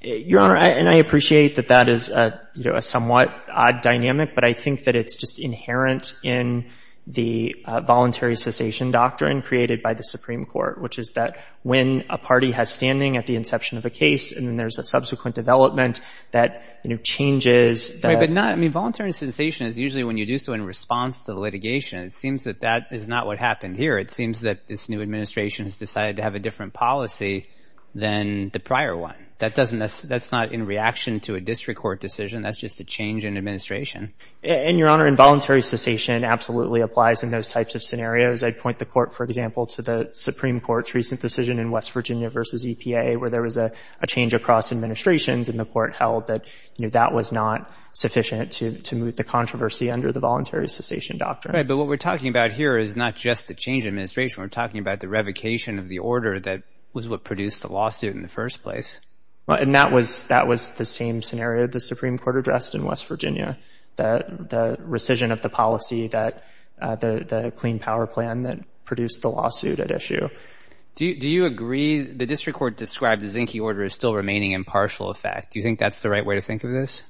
Your Honor, and I appreciate that that is, you know, a somewhat odd dynamic, but I think that it's just inherent in the voluntary cessation doctrine created by the Supreme Court, which is that when a party has standing at the inception of a case, and then there's a subsequent development that, you know, changes the... Right, but not, I mean, voluntary cessation is usually when you do so in response to the litigation. It seems that that is not what happened here. It seems that this new administration has decided to have a different policy than the prior one. That doesn't, that's not in reaction to a district court decision. That's just a change in administration. And Your Honor, involuntary cessation absolutely applies in those types of scenarios. I'd point the court, for example, to the Supreme Court's recent decision in West Virginia versus EPA, where there was a change across administrations and the court held that, you know, that was not sufficient to move the controversy under the voluntary cessation doctrine. Right, but what we're talking about here is not just the change administration. We're talking about the revocation of the order that was what produced the lawsuit in the first place. And that was, that was the same scenario the Supreme Court addressed in West Virginia, that the rescission of the policy that, the Clean Power Plan that produced the lawsuit at issue. Do you agree, the district court described the Zinke order as still remaining in partial effect. Do you think that's the right way to think of this?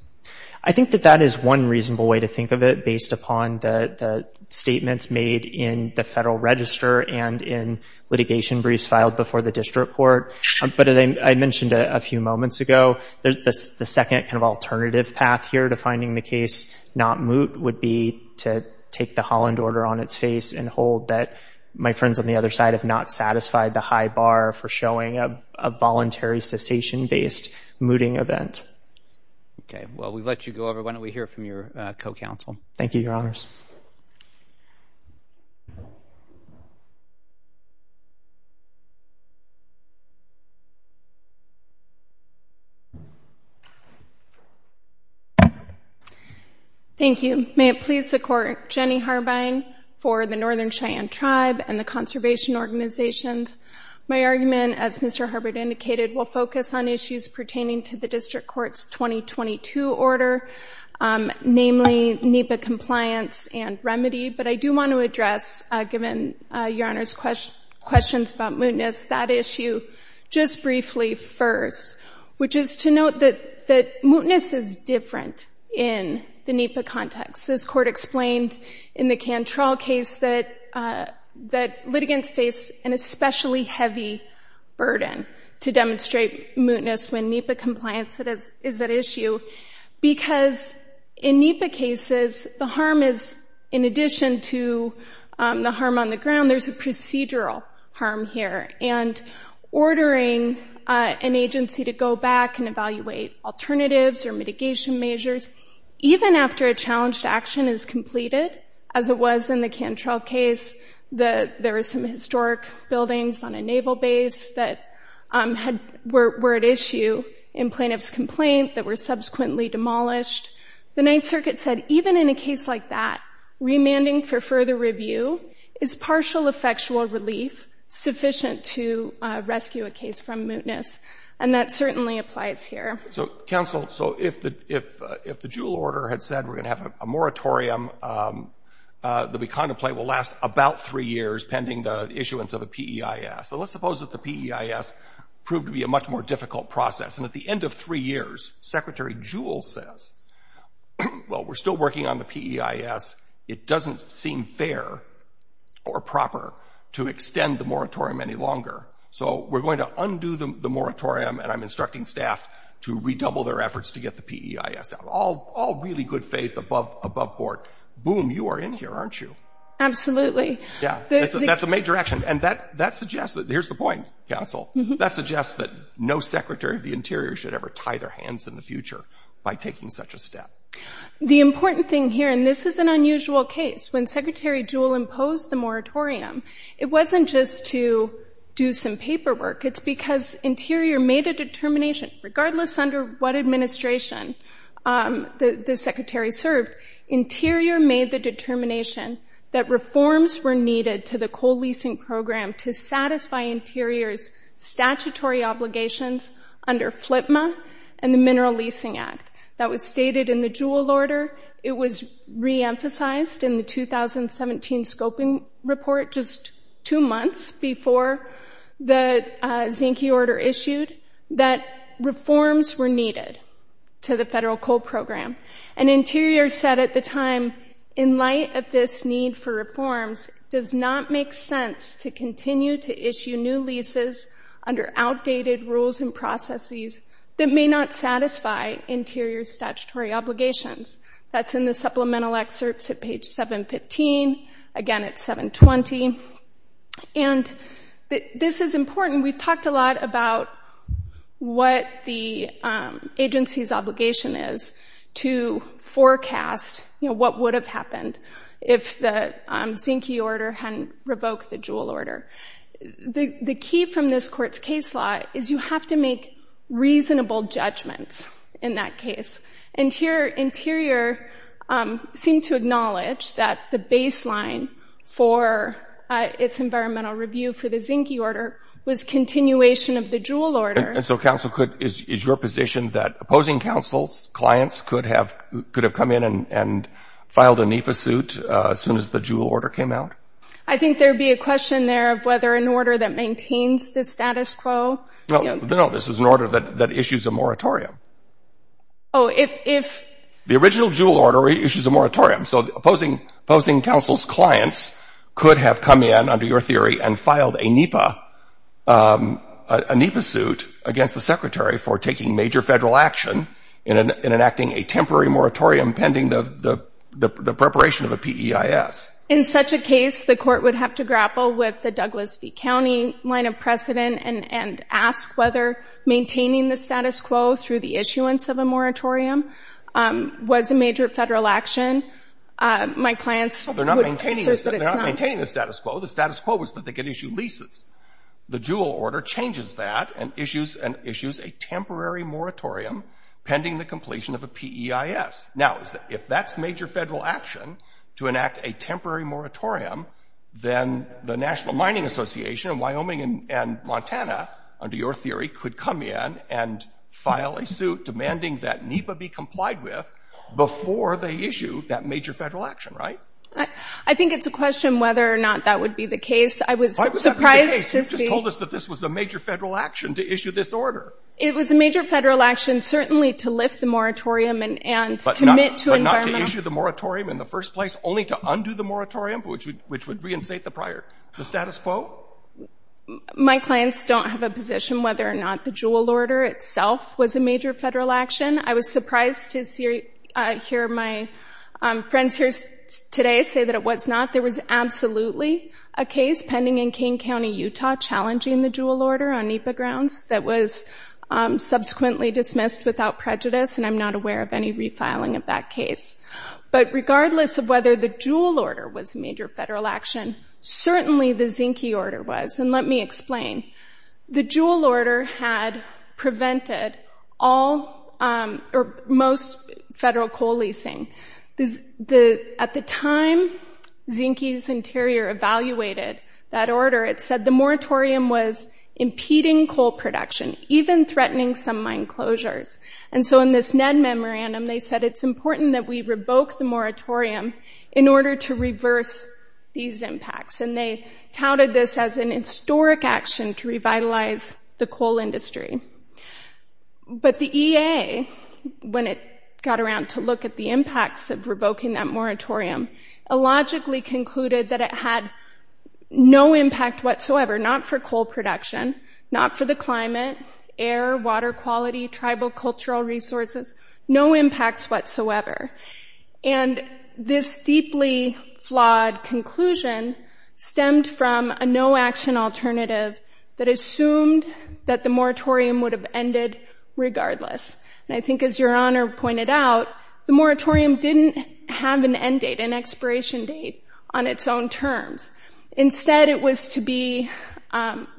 I think that that is one reasonable way to think of it, based upon the statements made in the federal register and in litigation briefs filed before the district court. But as I mentioned a few moments ago, the second kind of alternative path here to finding the case not moot would be to take the Holland order on its face and hold that my friends on the other side have not satisfied the high bar for showing a voluntary cessation-based mooting event. Okay, well, we've let you go over. Why don't we hear from your co-counsel? Thank you, your honors. Thank you. May it please the court, Jenny Harbin for the Northern Cheyenne Tribe and the conservation organizations. My argument, as Mr. Harbin indicated, will focus on issues pertaining to the district court's 2022 order, namely NEPA compliance and remedy. But I do want to address, given your honors' questions about mootness, that issue just briefly first, which is to note that mootness is different in the NEPA context. This court explained in the Cantrell case that litigants face an especially heavy burden to demonstrate mootness when NEPA compliance is at issue, because in NEPA cases, the harm is, in addition to the harm on the ground, there's a procedural harm here. And ordering an agency to go back and evaluate alternatives or mitigation measures, even after a challenged action is completed, as it was in the Cantrell case, that there were some historic buildings on a naval base that had — were at issue in plaintiff's complaint that were subsequently demolished. The Ninth Circuit said even in a case like that, remanding for further review is partial effectual relief sufficient to rescue a case from mootness. And that certainly applies here. So, counsel, so if the — if the Juul order had said we're going to have a moratorium that we contemplate will last about three years pending the issuance of a PEIS, so let's suppose that the PEIS proved to be a much more difficult process. And at the end of three years, Secretary Juul says, well, we're still working on the PEIS. It doesn't seem fair or proper to extend the moratorium any longer. So we're going to undo the moratorium. And I'm instructing staff to redouble their efforts to get the PEIS out. All really good faith above board. Boom, you are in here, aren't you? Absolutely. Yeah, that's a major action. And that suggests that — here's the point, counsel — that suggests that no Secretary of the Interior should ever tie their hands in the future by taking such a step. The important thing here, and this is an unusual case, when Secretary Juul imposed the moratorium, it wasn't just to do some paperwork. It's because Interior made a determination, regardless under what administration the Secretary served, Interior made the determination that reforms were needed to the coal leasing program to satisfy Interior's statutory obligations under FLPMA and the Mineral Leasing Act. That was stated in the Juul order. It was re-emphasized in the 2017 scoping report just two months before the Zinke order issued that reforms were needed to the federal coal program. And Interior said at the time, in light of this need for reforms, it does not make sense to continue to issue new leases under outdated rules and processes that may not satisfy Interior's statutory obligations. That's in the supplemental excerpts at page 715, again at 720. And this is important. We've talked a lot about what the agency's obligation is to forecast what would have happened if the Zinke order hadn't revoked the Juul order. The key from this court's case law is you have to make reasonable judgments in that case. And here, Interior seemed to acknowledge that the baseline for its environmental review for the Zinke order was continuation of the Juul order. And so counsel, is your position that opposing counsel's clients could have come in and filed a NEPA suit as soon as the Juul order came out? I think there'd be a question there of whether an order that maintains the status quo... No, this is an order that issues a moratorium. Oh, if... The original Juul order issues a moratorium. So opposing counsel's could have come in, under your theory, and filed a NEPA suit against the Secretary for taking major federal action in enacting a temporary moratorium pending the preparation of a PEIS. In such a case, the court would have to grapple with the Douglas V. County line of precedent and ask whether maintaining the status quo through the issuance of a moratorium was a major federal action. My clients... They're not maintaining the status quo. The status quo was that they could issue leases. The Juul order changes that and issues a temporary moratorium pending the completion of a PEIS. Now, if that's major federal action, to enact a temporary moratorium, then the National Mining Association of Wyoming and Montana, under your theory, could come in and file a suit demanding that NEPA be complied with before they issue that major federal action, right? I think it's a question whether or not that would be the case. I was surprised to see... Why would that be the case? You just told us that this was a major federal action to issue this order. It was a major federal action, certainly, to lift the moratorium and commit to environmental... But not to issue the moratorium in the first place, only to undo the moratorium, which would reinstate the prior status quo? My clients don't have a position whether or not the Juul order itself was a major federal action. I was surprised to hear my friends here today say that it was not. There was absolutely a case pending in Kane County, Utah, challenging the Juul order on NEPA grounds that was subsequently dismissed without prejudice, and I'm not aware of any refiling of that case. But regardless of whether the Juul order was a major federal action, the Juul order had prevented most federal coal leasing. At the time, Zinke's Interior evaluated that order. It said the moratorium was impeding coal production, even threatening some mine closures. And so in this NED memorandum, they said it's important that we revoke the moratorium in order to reverse these impacts. And they touted this as an historic action to revitalize the coal industry. But the EA, when it got around to look at the impacts of revoking that moratorium, illogically concluded that it had no impact whatsoever, not for coal production, not for the climate, air, water quality, tribal cultural resources, no impacts whatsoever. And this deeply flawed conclusion stemmed from a no-action alternative that assumed that the moratorium would have ended regardless. And I think as Your Honor pointed out, the moratorium didn't have an end date, an expiration date on its own terms. Instead, it was to be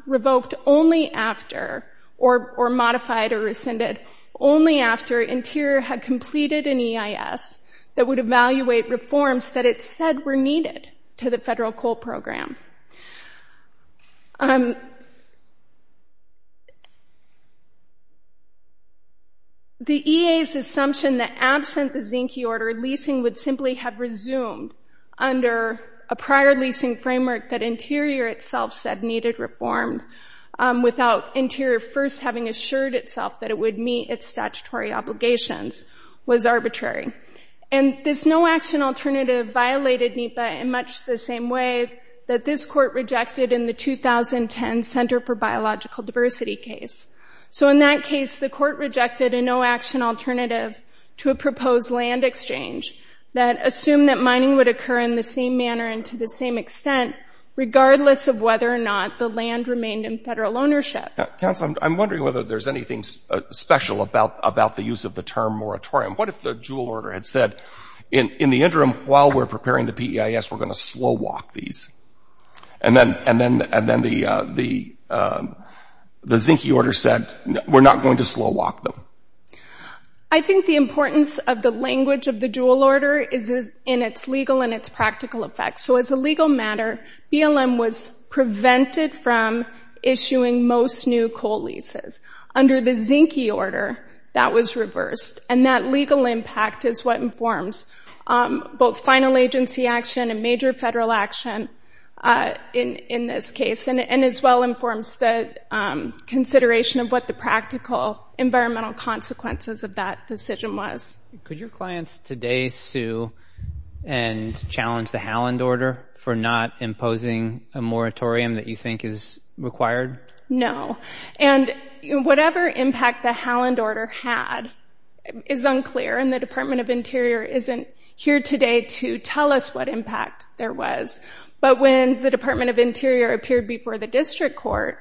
revoked only after, or modified or rescinded, only after Interior had completed an EIS that would evaluate reforms that it said were needed to the federal coal program. The EA's assumption that absent the Zinke order, leasing would simply have resumed under a prior leasing framework that Interior itself said needed reform without Interior first having assured itself that it would meet its statutory obligations was arbitrary. And this no-action alternative violated NEPA in much the same way that this court rejected in the 2010 Center for Biological Diversity case. So in that case, the court rejected a no-action alternative to a proposed land exchange that assumed that mining would occur in the same manner and to the same extent regardless of whether or not the land remained in federal ownership. Counsel, I'm wondering whether there's anything special about the use of the term moratorium. What if the Jewell order had said, in the interim, while we're preparing the PEIS, we're going to slow walk these. And then the Zinke order said, we're not going to slow walk them. I think the importance of the language of the Jewell order is in its legal and its practical effects. So as a legal matter, BLM was prevented from issuing most new coal leases. Under the Zinke order, that was reversed. And that legal impact is what informs both final agency action and major federal action in this case, and as well informs the consideration of what the practical environmental consequences of that decision was. Could your clients today sue and challenge the Halland order for not imposing a moratorium that you think is required? No. And whatever impact the Halland order had is unclear, and the Department of Interior isn't here today to tell us what impact there was. But when the Department of Interior appeared before the district court,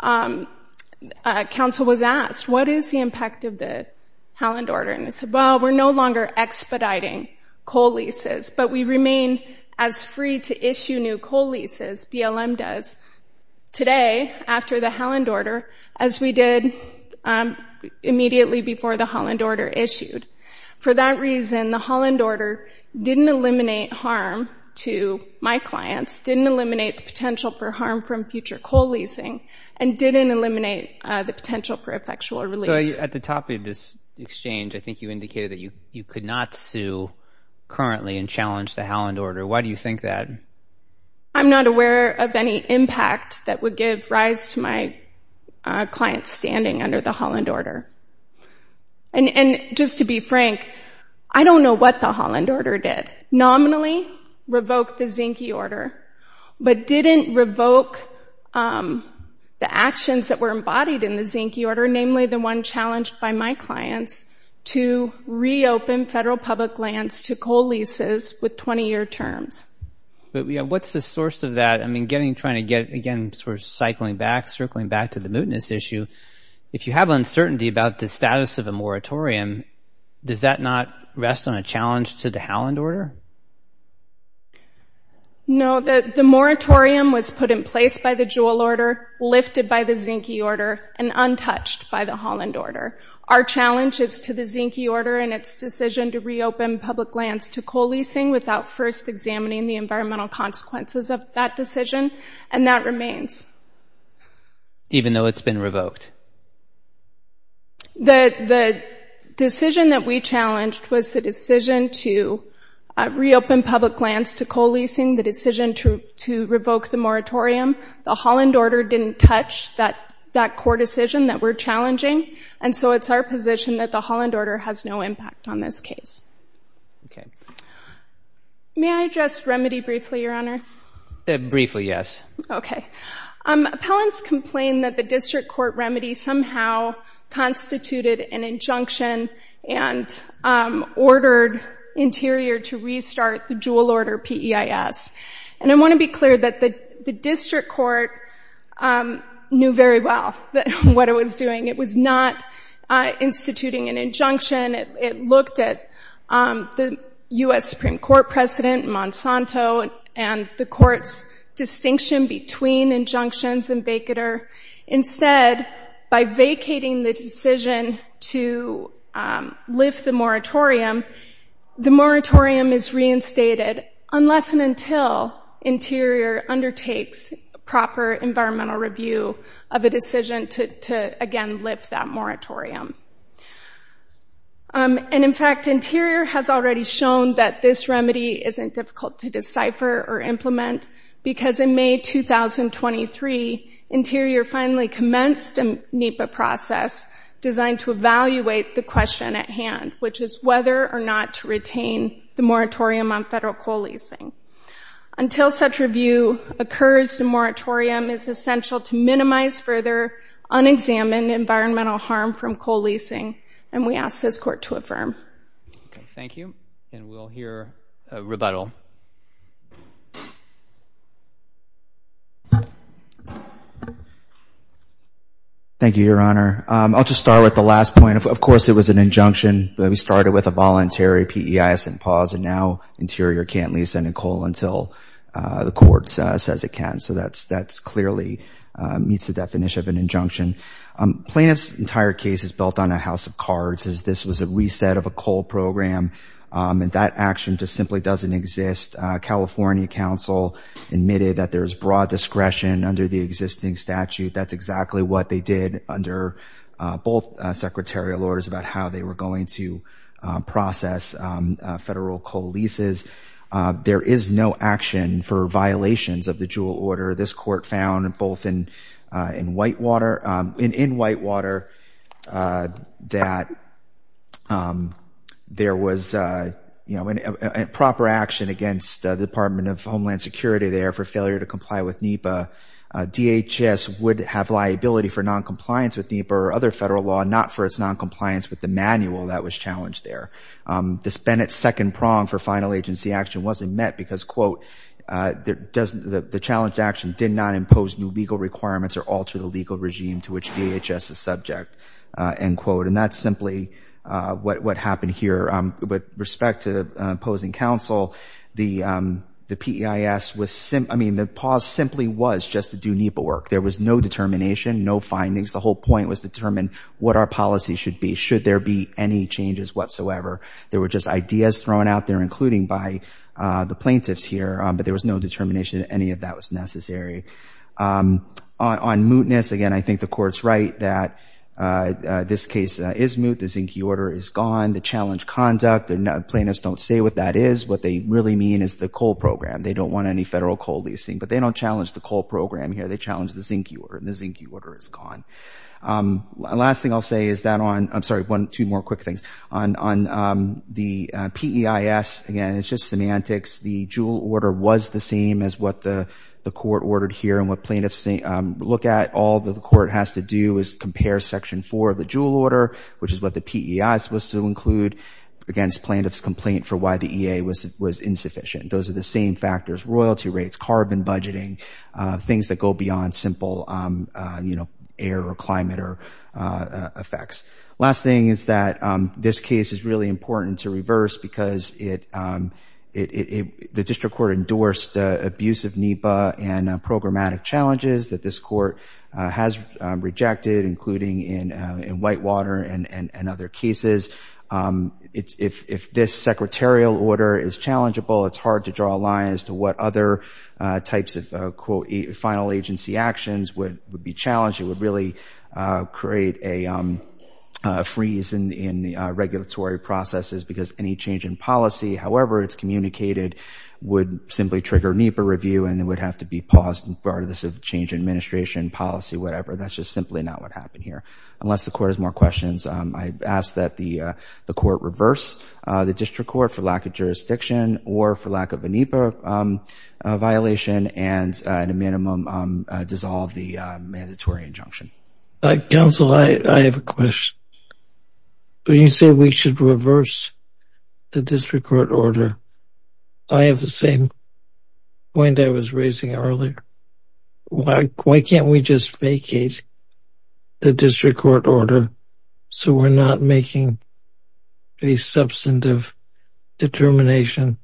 a counsel was asked, what is the impact of the Halland order? And they said, well, we're no longer expediting coal leases, but we remain as free to issue new coal leases, BLM does today, after the Halland order, as we did immediately before the Halland order issued. For that reason, the Halland order didn't eliminate harm to my clients, didn't eliminate the potential for harm from future coal leasing, and didn't eliminate the potential for effectual relief. At the top of this exchange, I think you indicated that you could not sue currently and challenge the Halland order. Why do you think that? I'm not aware of any impact that would give rise to my clients standing under the Halland order. And just to be frank, I don't know what the Halland order did. Nominally, revoked the Zinke order, but didn't revoke the actions that were embodied in the Zinke order, namely the one challenged by my clients to reopen federal public lands to coal leases with 20-year terms. But what's the source of that? I mean, getting, trying to get, again, sort of cycling back, circling back to the mootness issue, if you have uncertainty about the status of a moratorium, does that not rest on a challenge to the Halland order? No, the moratorium was put in place by the Jewell order, lifted by the Zinke order, and untouched by the Halland order. Our challenge is to the Zinke order and its decision to reopen public lands to coal leasing without first examining the environmental consequences of that decision, and that remains. Even though it's been revoked? The decision that we challenged was the decision to reopen public lands to coal leasing, the decision to revoke the moratorium. The Halland order didn't touch that core decision that we're challenging, and so it's our position that the Halland order has no impact on this case. Okay. May I address remedy briefly, Your Honor? Briefly, yes. Okay. Appellants complain that the district court remedy somehow constituted an injunction and ordered Interior to restart the Jewell order PEIS. And I want to be clear that the district court knew very well what it was doing. It was not instituting an injunction. It looked at the U.S. Supreme Court precedent, Monsanto, and the court's distinction between injunctions and vacater. Instead, by vacating the decision to lift the moratorium, the moratorium is reinstated unless and until Interior undertakes proper environmental review of a decision to, again, lift that moratorium. And, in fact, Interior has already shown that this remedy isn't difficult to decipher or implement because in May 2023, Interior finally commenced a NEPA process designed to evaluate the question at hand, which is whether or not to retain the moratorium on federal coal leasing. Until such review occurs, the moratorium is essential to minimize further unexamined environmental harm from coal leasing, and we ask this court to affirm. Okay. Thank you. And we'll hear a rebuttal. Thank you, Your Honor. I'll just start with the last point. Of course, it was an injunction. We started with a voluntary PEIS and pause, and now Interior can't lease any coal until the court says it can. So that clearly meets the definition of an injunction. Plaintiff's entire case is built on a house of cards, as this was a reset of a coal program, and that action just simply doesn't exist. California counsel admitted that there's broad discretion under the existing statute. That's exactly what they did under both secretarial orders about how they were going to process federal coal leases. There is no action for violations of the Juul order. This court found both in Whitewater that there was proper action against the Department of Homeland Security there for failure to comply with NEPA. DHS would have liability for noncompliance with NEPA or other federal law, not for its noncompliance with the manual that was challenged there. This Bennett second prong for final agency action wasn't met because, quote, the challenged action did not impose new legal requirements or alter the legal regime to which DHS is subject, end quote. And that's simply what happened here. With respect to opposing counsel, the PEIS was, I mean, the pause simply was just to do NEPA work. There was no determination, no findings. The whole point was determine what our policy should be. Should there be any changes whatsoever? There were just ideas thrown out there, including by the plaintiffs here, but there was no determination that any of that was necessary. On mootness, again, I think the court's right that this case is moot. The Zinke order is gone. The challenged conduct, the plaintiffs don't say what that is. What they really mean is the coal program. They don't want any federal coal leasing, but they don't challenge the coal program here. They challenge the Zinke order, and the Zinke order is gone. Last thing I'll say is that on, I'm sorry, two more quick things. On the PEIS, again, it's just semantics. The Juul order was the same as what the court ordered here and what plaintiffs look at. All that the court has to do is compare section four of the Juul order, which is what the PEIS was to include, against plaintiff's complaint for why the EA was insufficient. Those are the same factors, royalty rates, carbon budgeting, things that go beyond simple air or climate effects. Last thing is that this case is really important to reverse because the district court endorsed abuse of NEPA and programmatic challenges that this court has rejected, including in Whitewater and other cases. If this secretarial order is challengeable, it's hard to draw a line as to what other types of final agency actions would be challenged. It would really create a freeze in the regulatory processes because any change in policy, however it's communicated, would simply trigger NEPA review, and it would have to be paused as part of this change in administration policy, whatever. That's just simply not what happened here, unless the court has more questions. I ask that the court reverse the district court for lack of jurisdiction or for lack of a NEPA violation and, at a minimum, dissolve the mandatory injunction. Counsel, I have a question. You say we should reverse the district court order. I have the same point I was raising earlier. Why can't we just vacate the district court order so we're not making a substantive determination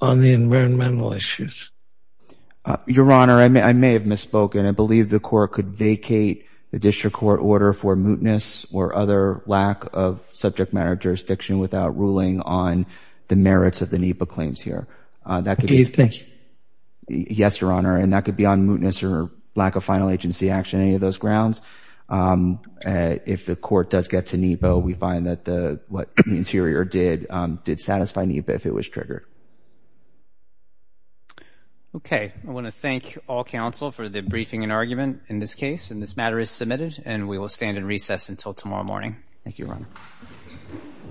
on the environmental issues? Your Honor, I may have misspoken. I believe the court could vacate the district court order for mootness or other lack of subject matter jurisdiction without ruling on the merits of the NEPA claims here. Do you think? Yes, Your Honor, and that could be on mootness or lack final agency action, any of those grounds. If the court does get to NEPA, we find that what the interior did did satisfy NEPA if it was triggered. Okay, I want to thank all counsel for the briefing and argument in this case, and this matter is submitted, and we will stand in recess until tomorrow morning. Thank you, Your Honor.